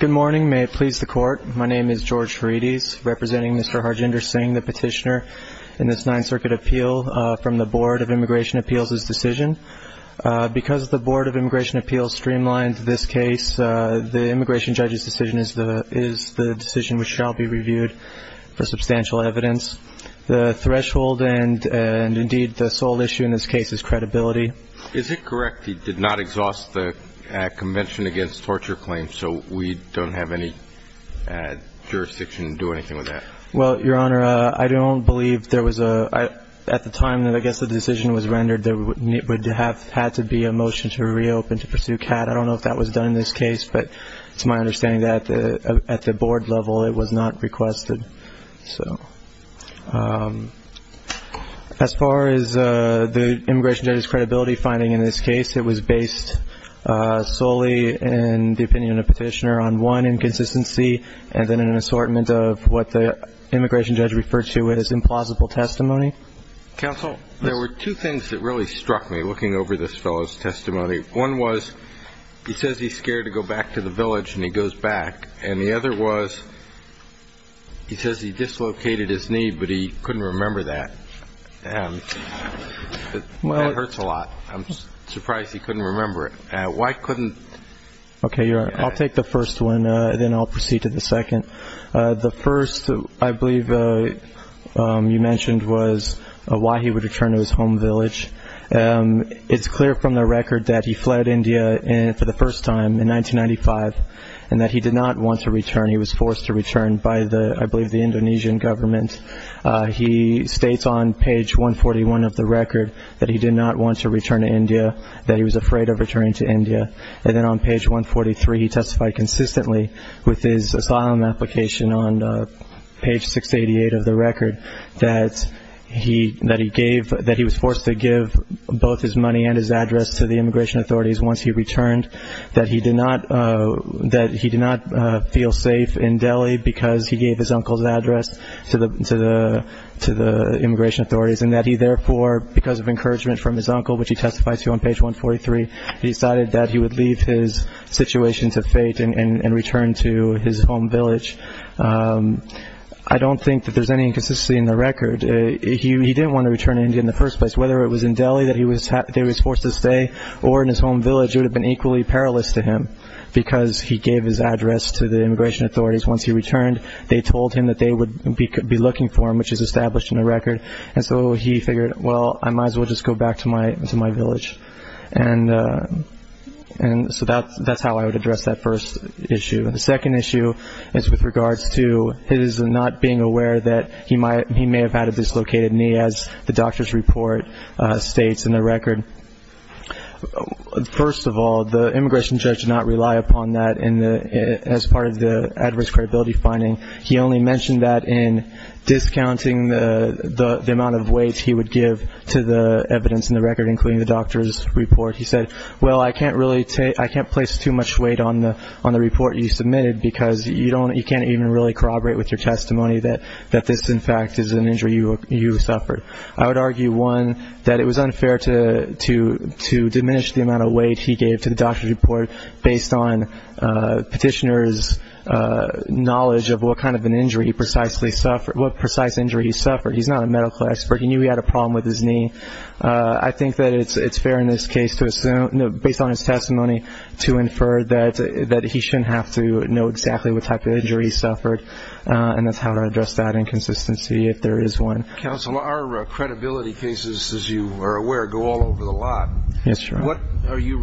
Good morning. May it please the court. My name is George Ferides, representing Mr. Harjinder Singh, the petitioner in this Ninth Circuit appeal from the Board of Immigration Appeals' decision. Because the Board of Immigration Appeals streamlines this case, the immigration judge's decision is the decision which shall be reviewed for substantial evidence. The threshold and, indeed, the sole issue in this case is credibility. Is it correct he did not exhaust the Convention Against Torture Claims, so we don't have any jurisdiction to do anything with that? Well, Your Honor, I don't believe there was a – at the time that, I guess, the decision was rendered, there would have had to be a motion to reopen to pursue CAD. I don't know if that was done in this case, but it's my understanding that at the Board level it was not requested. So as far as the immigration judge's credibility finding in this case, it was based solely in the opinion of the petitioner on one, inconsistency, and then an assortment of what the immigration judge referred to as implausible testimony. Counsel, there were two things that really struck me looking over this fellow's testimony. One was he says he's scared to go back to the village, and he goes back. And the other was he says he dislocated his knee, but he couldn't remember that. That hurts a lot. I'm surprised he couldn't remember it. Why couldn't – Okay, Your Honor, I'll take the first one, then I'll proceed to the second. The first, I believe you mentioned, was why he would return to his home village. It's clear from the record that he fled India for the first time in 1995 and that he did not want to return. He was forced to return by, I believe, the Indonesian government. He states on page 141 of the record that he did not want to return to India, that he was afraid of returning to India. And then on page 143, he testified consistently with his asylum application on page 688 of the record that he was forced to give both his money and his address to the immigration authorities once he returned, that he did not feel safe in Delhi because he gave his uncle's address to the immigration authorities, and that he therefore, because of encouragement from his uncle, which he testifies to on page 143, he decided that he would leave his situation to fate and return to his home village. I don't think that there's any inconsistency in the record. He didn't want to return to India in the first place. Whether it was in Delhi that he was forced to stay or in his home village, it would have been equally perilous to him because he gave his address to the immigration authorities. Once he returned, they told him that they would be looking for him, which is established in the record. And so he figured, well, I might as well just go back to my village. And so that's how I would address that first issue. The second issue is with regards to his not being aware that he may have had a dislocated knee, as the doctor's report states in the record. First of all, the immigration judge did not rely upon that as part of the adverse credibility finding. He only mentioned that in discounting the amount of weight he would give to the evidence in the record, including the doctor's report. He said, well, I can't place too much weight on the report you submitted because you can't even really corroborate with your testimony that this, in fact, is an injury you suffered. I would argue, one, that it was unfair to diminish the amount of weight he gave to the doctor's report based on petitioners' knowledge of what kind of an injury he precisely suffered, what precise injury he suffered. He's not a medical expert. He knew he had a problem with his knee. I think that it's fair in this case to assume, based on his testimony, to infer that he shouldn't have to know exactly what type of injury he suffered, and that's how I would address that inconsistency if there is one. Counsel, our credibility cases, as you are aware, go all over the lot. Yes, Your Honor. What are you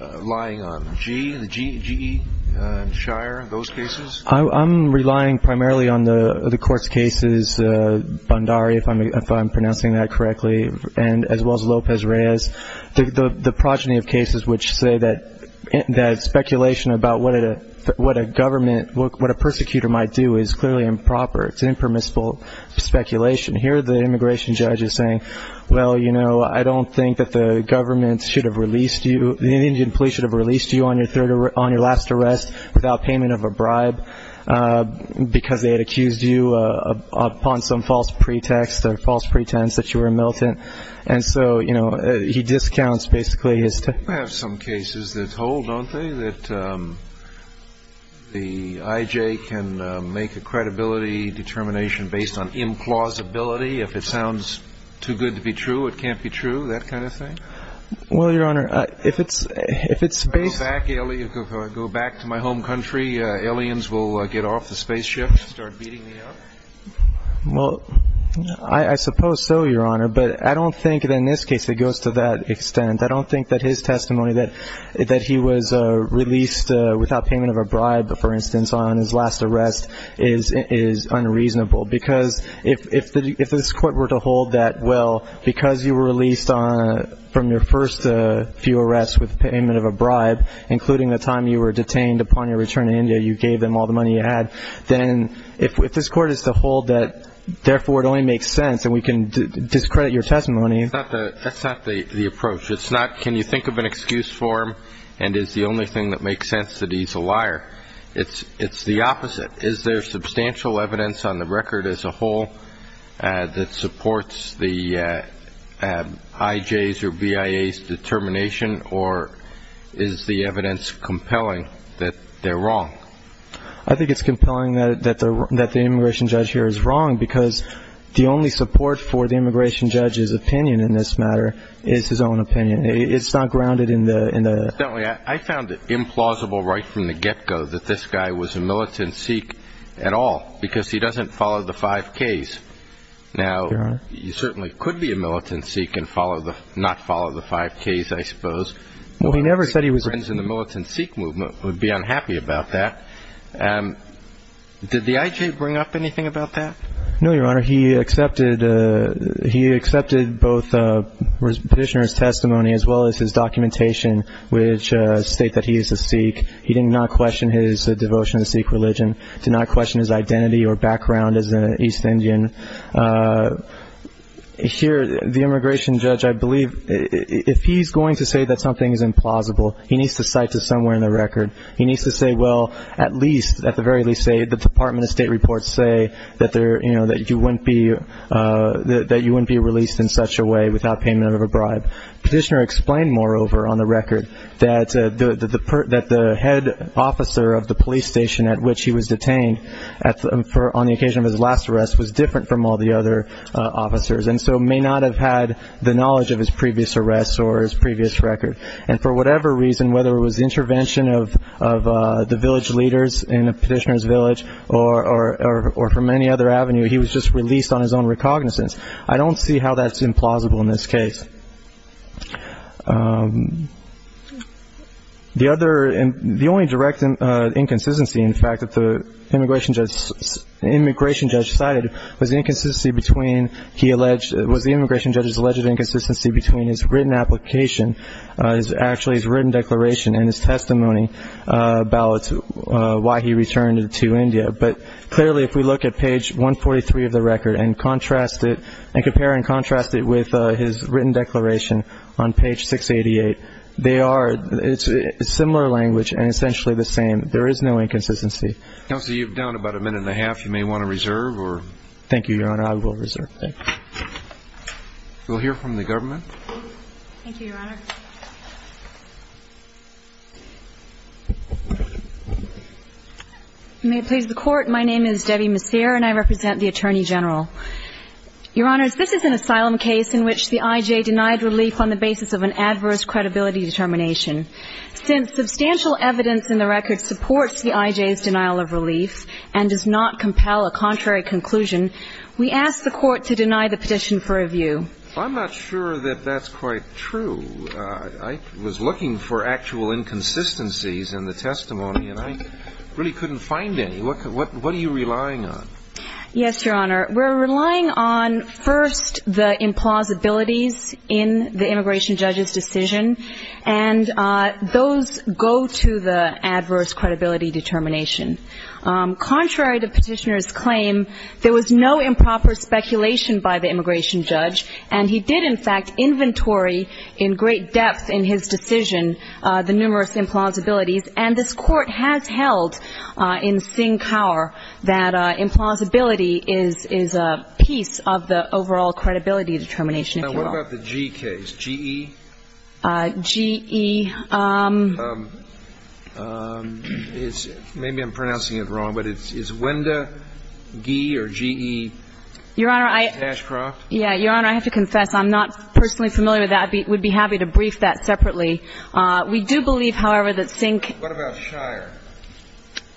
relying on, GE and Shire, those cases? I'm relying primarily on the court's cases, Bhandari, if I'm pronouncing that correctly, as well as Lopez-Reyes, the progeny of cases which say that speculation about what a government, what a persecutor might do is clearly improper. It's impermissible speculation. Here the immigration judge is saying, well, you know, I don't think that the government should have released you, the Indian police should have released you on your last arrest without payment of a bribe because they had accused you upon some false pretext or false pretense that you were a militant. And so, you know, he discounts basically his testimony. We have some cases that hold, don't they, that the IJ can make a credibility determination based on implausibility. If it sounds too good to be true, it can't be true, that kind of thing. Well, Your Honor, if it's based – If I go back to my home country, aliens will get off the spaceships and start beating me up? Well, I suppose so, Your Honor, but I don't think that in this case it goes to that extent. I don't think that his testimony that he was released without payment of a bribe, for instance, on his last arrest is unreasonable because if this court were to hold that, well, because you were released from your first few arrests with payment of a bribe, including the time you were detained upon your return to India, you gave them all the money you had, then if this court is to hold that, therefore, it only makes sense and we can discredit your testimony. That's not the approach. It's not can you think of an excuse for him and it's the only thing that makes sense that he's a liar. It's the opposite. Is there substantial evidence on the record as a whole that supports the IJ's or BIA's determination or is the evidence compelling that they're wrong? I think it's compelling that the immigration judge here is wrong because the only support for the immigration judge's opinion in this matter is his own opinion. It's not grounded in the – Well, incidentally, I found it implausible right from the get-go that this guy was a militant Sikh at all because he doesn't follow the 5Ks. Now, he certainly could be a militant Sikh and not follow the 5Ks, I suppose. Well, he never said he was – Friends in the militant Sikh movement would be unhappy about that. Did the IJ bring up anything about that? No, Your Honor. He accepted both the petitioner's testimony as well as his documentation which state that he is a Sikh. He did not question his devotion to Sikh religion, did not question his identity or background as an East Indian. Here, the immigration judge, I believe, if he's going to say that something is implausible, he needs to cite it somewhere in the record. He needs to say, well, at least, at the very least, say – the Department of State reports say that you wouldn't be released in such a way without payment of a bribe. Petitioner explained, moreover, on the record that the head officer of the police station at which he was detained on the occasion of his last arrest was different from all the other officers and so may not have had the knowledge of his previous arrests or his previous record. And for whatever reason, whether it was intervention of the village leaders in a petitioner's village or from any other avenue, he was just released on his own recognizance. I don't see how that's implausible in this case. The only direct inconsistency, in fact, that the immigration judge cited was the immigration judge's alleged inconsistency between his written application, actually his written declaration and his testimony about why he returned to India. But clearly, if we look at page 143 of the record and compare and contrast it with his written declaration on page 688, they are similar language and essentially the same. There is no inconsistency. Counsel, you're down about a minute and a half. You may want to reserve or... Thank you, Your Honor. I will reserve. Thank you. We'll hear from the government. Thank you, Your Honor. May it please the Court. My name is Debbie Messier and I represent the Attorney General. Your Honors, this is an asylum case in which the I.J. denied relief on the basis of an adverse credibility determination. Since substantial evidence in the record supports the I.J.'s denial of relief and does not compel a contrary conclusion, we ask the Court to deny the petition for review. I'm not sure that that's quite true. I was looking for actual inconsistencies in the testimony and I really couldn't find any. What are you relying on? Yes, Your Honor. We're relying on, first, the implausibilities in the immigration judge's decision, and those go to the adverse credibility determination. Contrary to petitioner's claim, there was no improper speculation by the immigration judge, and he did, in fact, inventory in great depth in his decision the numerous implausibilities, and this Court has held in Sinkower that implausibility is a piece of the overall credibility determination, if you will. Now, what about the G case, G-E? G-E is, maybe I'm pronouncing it wrong, but it's Wenda Gee or G-E Tashcroft? Your Honor, I have to confess, I'm not personally familiar with that. I would be happy to brief that separately. We do believe, however, that Sinkó What about Shire?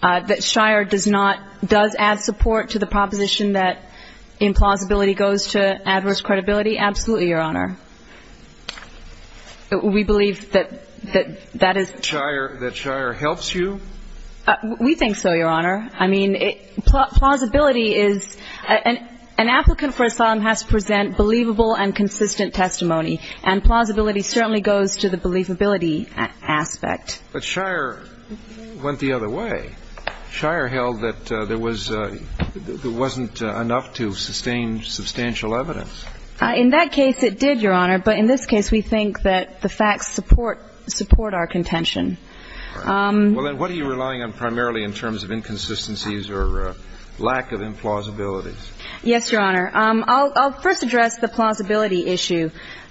That Shire does notódoes add support to the proposition that implausibility goes to adverse credibility? Absolutely, Your Honor. We believe that that isó That Shire helps you? We think so, Your Honor. I mean, plausibility isóan applicant for asylum has to present believable and consistent testimony, and plausibility certainly goes to the believability aspect. But Shire went the other way. Shire held that there wasóthere wasn't enough to sustain substantial evidence. In that case, it did, Your Honor, but in this case, we think that the facts support our contention. All right. Well, then, what are you relying on primarily in terms of inconsistencies or lack of implausibilities? Yes, Your Honor. I'll first address the plausibility issue.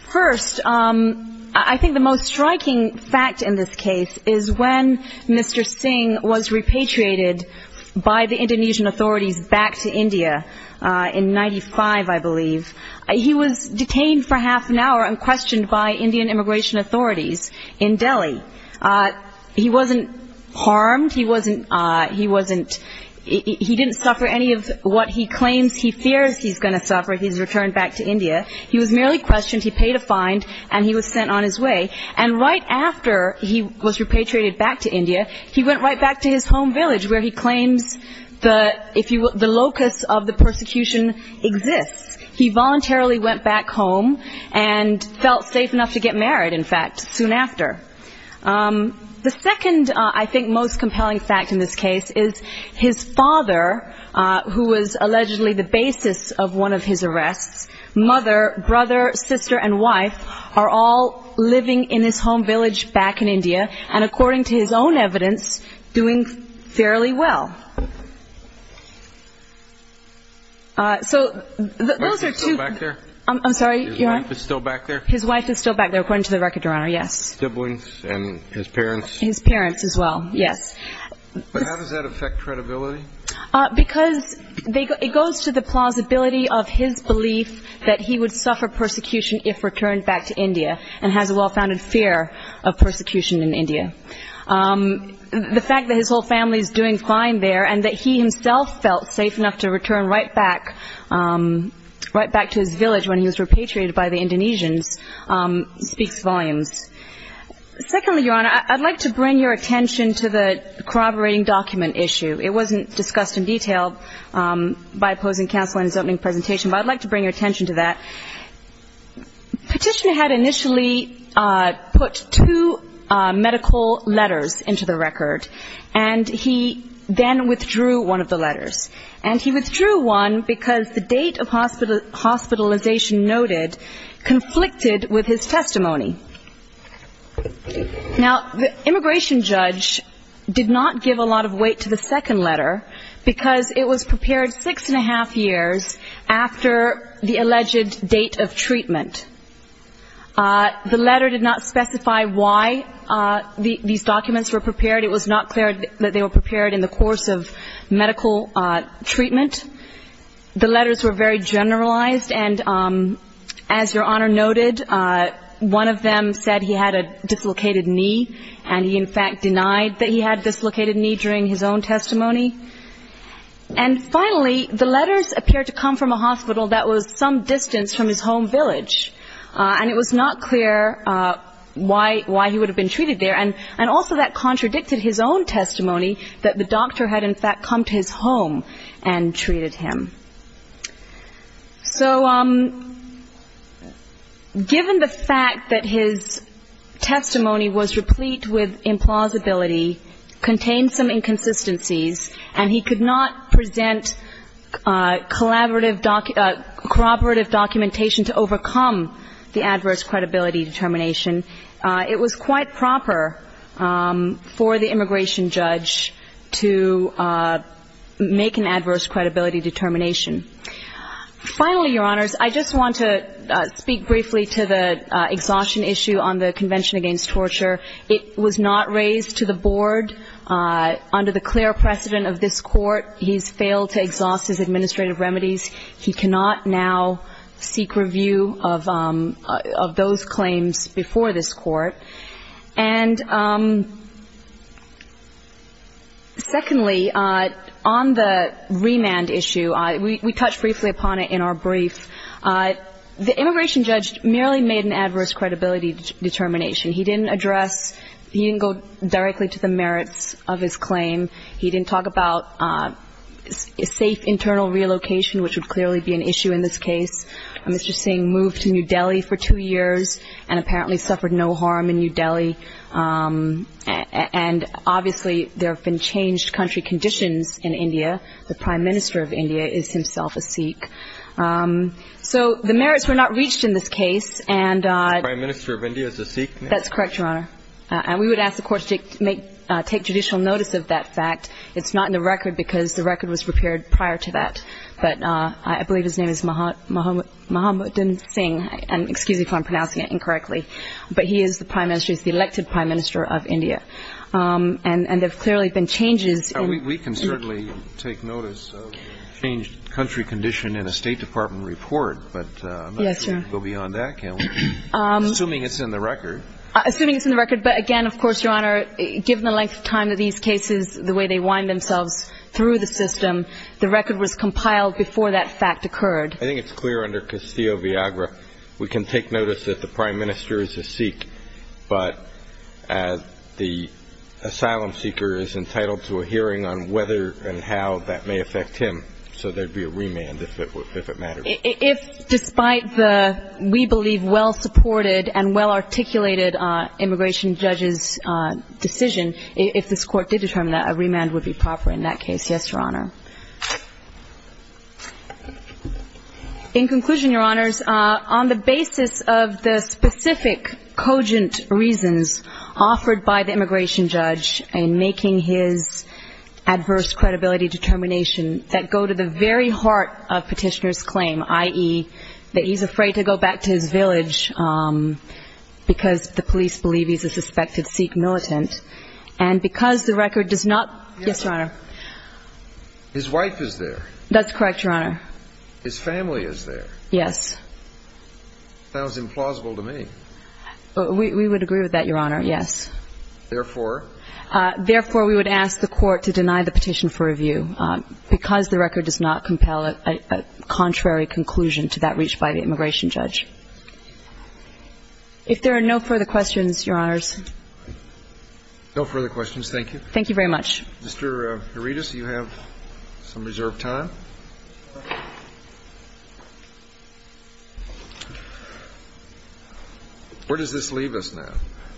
First, I think the most striking fact in this case is when Mr. Sink was repatriated by the Indonesian authorities back to India in í95, I believe. He was detained for half an hour and questioned by Indian immigration authorities in Delhi. He wasn't harmed. He wasn'tóhe didn't suffer any of what he claims he fears he's going to suffer. He's returned back to India. He was merely questioned. He paid a fine, and he was sent on his way. And right after he was repatriated back to India, he went right back to his home village where he claims the locus of the persecution exists. He voluntarily went back home and felt safe enough to get married, in fact, soon after. The second, I think, most compelling fact in this case is his father, who was allegedly the basis of one of his arrestsómother, brother, sister, and wifeó are all living in his home village back in India and, according to his own evidence, doing fairly well. So those are twoó Is his wife still back there? I'm sorry, Your Honor? Is his wife still back there? His wife is still back there, according to the record, Your Honor, yes. And his siblings and his parents? His parents as well, yes. But how does that affect credibility? Because it goes to the plausibility of his belief that he would suffer persecution if returned back to India and has a well-founded fear of persecution in India. The fact that his whole family is doing fine there and that he himself felt safe enough to return right back to his village when he was repatriated by the Indonesians speaks volumes. Secondly, Your Honor, I'd like to bring your attention to the corroborating document issue. It wasn't discussed in detail by opposing counsel in his opening presentation, but I'd like to bring your attention to that. Petitioner had initially put two medical letters into the record, and he then withdrew one of the letters. And he withdrew one because the date of hospitalization noted conflicted with his testimony. Now, the immigration judge did not give a lot of weight to the second letter because it was prepared six and a half years after the alleged date of treatment. The letter did not specify why these documents were prepared. It was not clear that they were prepared in the course of medical treatment. The letters were very generalized, and as Your Honor noted, one of them said he had a dislocated knee, and he in fact denied that he had a dislocated knee during his own testimony. And finally, the letters appeared to come from a hospital that was some distance from his home village, and it was not clear why he would have been treated there. And also that contradicted his own testimony that the doctor had in fact come to his home and treated him. So given the fact that his testimony was replete with implausibility, contained some inconsistencies, and he could not present corroborative documentation to overcome the adverse credibility determination, it was quite proper for the immigration judge to make an adverse credibility determination. Finally, Your Honors, I just want to speak briefly to the exhaustion issue on the Convention Against Torture. It was not raised to the board. Under the clear precedent of this Court, he's failed to exhaust his administrative remedies. He cannot now seek review of those claims before this Court. And secondly, on the remand issue, we touched briefly upon it in our brief. The immigration judge merely made an adverse credibility determination. He didn't address, he didn't go directly to the merits of his claim. He didn't talk about safe internal relocation, which would clearly be an issue in this case. Mr. Singh moved to New Delhi for two years and apparently suffered no harm in New Delhi. And obviously, there have been changed country conditions in India. The prime minister of India is himself a Sikh. So the merits were not reached in this case. The prime minister of India is a Sikh? That's correct, Your Honor. And we would ask the Court to take judicial notice of that fact. It's not in the record because the record was prepared prior to that. But I believe his name is Mahamuddin Singh. Excuse me if I'm pronouncing it incorrectly. But he is the prime minister, he's the elected prime minister of India. And there have clearly been changes. We can certainly take notice of changed country condition in a State Department report. But I'm not sure we can go beyond that, can we? Yes, Your Honor. Assuming it's in the record. Assuming it's in the record. But again, of course, Your Honor, given the length of time that these cases, the way they wind themselves through the system, the record was compiled before that fact occurred. I think it's clear under Castillo-Viagra, we can take notice that the prime minister is a Sikh. But the asylum seeker is entitled to a hearing on whether and how that may affect him. So there would be a remand if it matters. If despite the, we believe, well-supported and well-articulated immigration judge's decision, if this Court did determine that, a remand would be proper in that case. Yes, Your Honor. In conclusion, Your Honors, on the basis of the specific cogent reasons offered by the immigration judge in making his adverse credibility determination that go to the very heart of Petitioner's claim, i.e., that he's afraid to go back to his village because the police believe he's a suspected Sikh militant, and because the record does not, yes, Your Honor? His wife is there. That's correct, Your Honor. His family is there. Yes. That sounds implausible to me. We would agree with that, Your Honor, yes. Therefore? Therefore, we would ask the Court to deny the petition for review because the record does not compel a contrary conclusion to that reached by the immigration judge. If there are no further questions, Your Honors. No further questions. Thank you. Thank you very much. Mr. Herides, you have some reserved time. Where does this leave us now?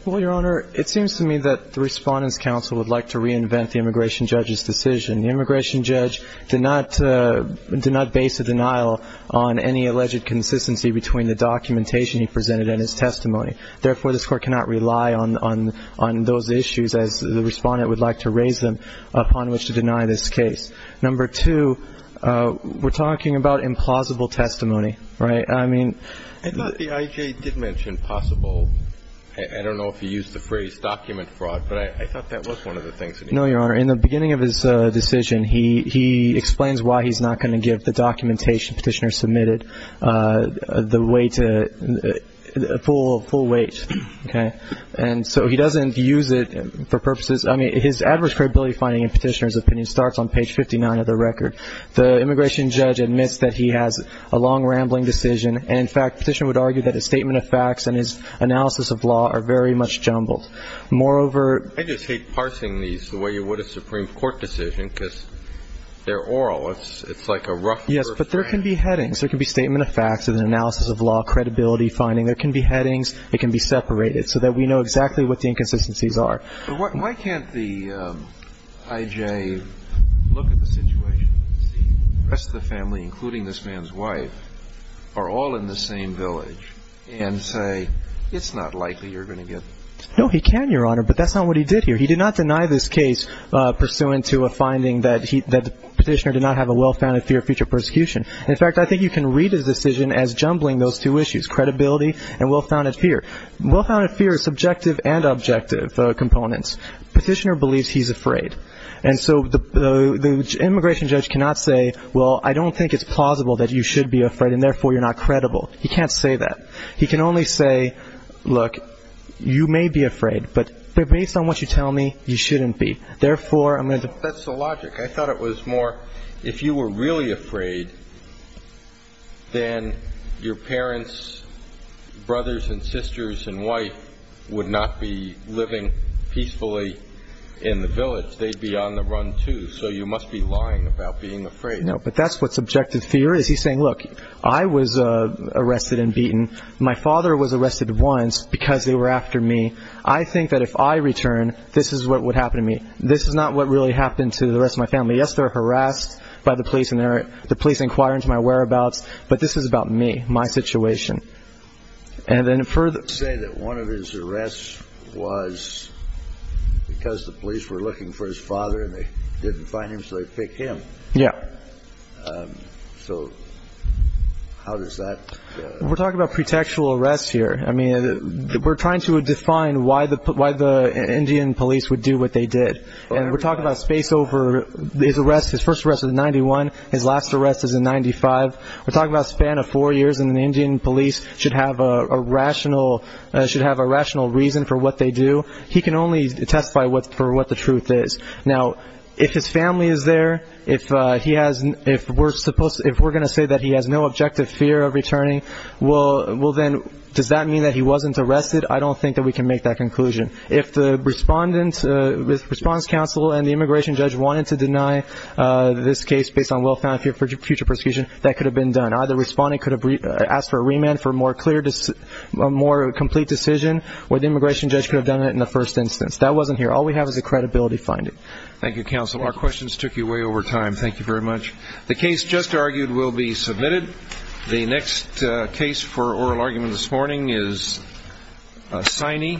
Well, Your Honor, it seems to me that the Respondents' Counsel would like to reinvent the immigration judge's decision. The immigration judge did not base a denial on any alleged consistency between the documentation he presented and his testimony. Therefore, this Court cannot rely on those issues, as the Respondent would like to raise them, upon which to deny this case. Number two, we're talking about implausible testimony, right? I thought the I.J. did mention possible. I don't know if he used the phrase document fraud, but I thought that was one of the things. No, Your Honor. In the beginning of his decision, he explains why he's not going to give the documentation petitioner submitted the full weight, okay? And so he doesn't use it for purposes. I mean, his adverse credibility finding in petitioner's opinion starts on page 59 of the record. The immigration judge admits that he has a long, rambling decision. And, in fact, petitioner would argue that his statement of facts and his analysis of law are very much jumbled. Moreover ---- I just hate parsing these the way you would a Supreme Court decision because they're oral. It's like a rougher thing. Yes, but there can be headings. There can be statement of facts and an analysis of law, credibility finding. There can be headings. It can be separated so that we know exactly what the inconsistencies are. But why can't the I.J. look at the situation and see the rest of the family, including this man's wife, are all in the same village, and say it's not likely you're going to get ---- No, he can, Your Honor, but that's not what he did here. He did not deny this case pursuant to a finding that the petitioner did not have a well-founded fear of future persecution. In fact, I think you can read his decision as jumbling those two issues, credibility and well-founded fear. Well-founded fear is subjective and objective components. Petitioner believes he's afraid. And so the immigration judge cannot say, well, I don't think it's plausible that you should be afraid and, therefore, you're not credible. He can't say that. He can only say, look, you may be afraid, but based on what you tell me, you shouldn't be. Therefore, I'm going to ---- That's the logic. I thought it was more if you were really afraid, then your parents, brothers and sisters and wife would not be living peacefully in the village. They'd be on the run, too. So you must be lying about being afraid. No, but that's what subjective fear is. He's saying, look, I was arrested and beaten. My father was arrested once because they were after me. I think that if I return, this is what would happen to me. This is not what really happened to the rest of my family. Yes, they're harassed by the police and the police inquire into my whereabouts. But this is about me, my situation. And then further ---- You say that one of his arrests was because the police were looking for his father and they didn't find him, so they picked him. Yeah. So how does that ---- We're talking about pretextual arrests here. I mean, we're trying to define why the Indian police would do what they did. And we're talking about space over his arrest. His first arrest was in 91. His last arrest is in 95. We're talking about a span of four years, and the Indian police should have a rational reason for what they do. He can only testify for what the truth is. Now, if his family is there, if we're going to say that he has no objective fear of returning, does that mean that he wasn't arrested? I don't think that we can make that conclusion. If the Respondent's Counsel and the immigration judge wanted to deny this case based on well-founded fear for future persecution, that could have been done. Either the respondent could have asked for a remand for a more complete decision, or the immigration judge could have done it in the first instance. That wasn't here. All we have is a credibility finding. Thank you, Counsel. Our questions took you way over time. Thank you very much. The case just argued will be submitted. The next case for oral argument this morning is Siney v. Gonzalez.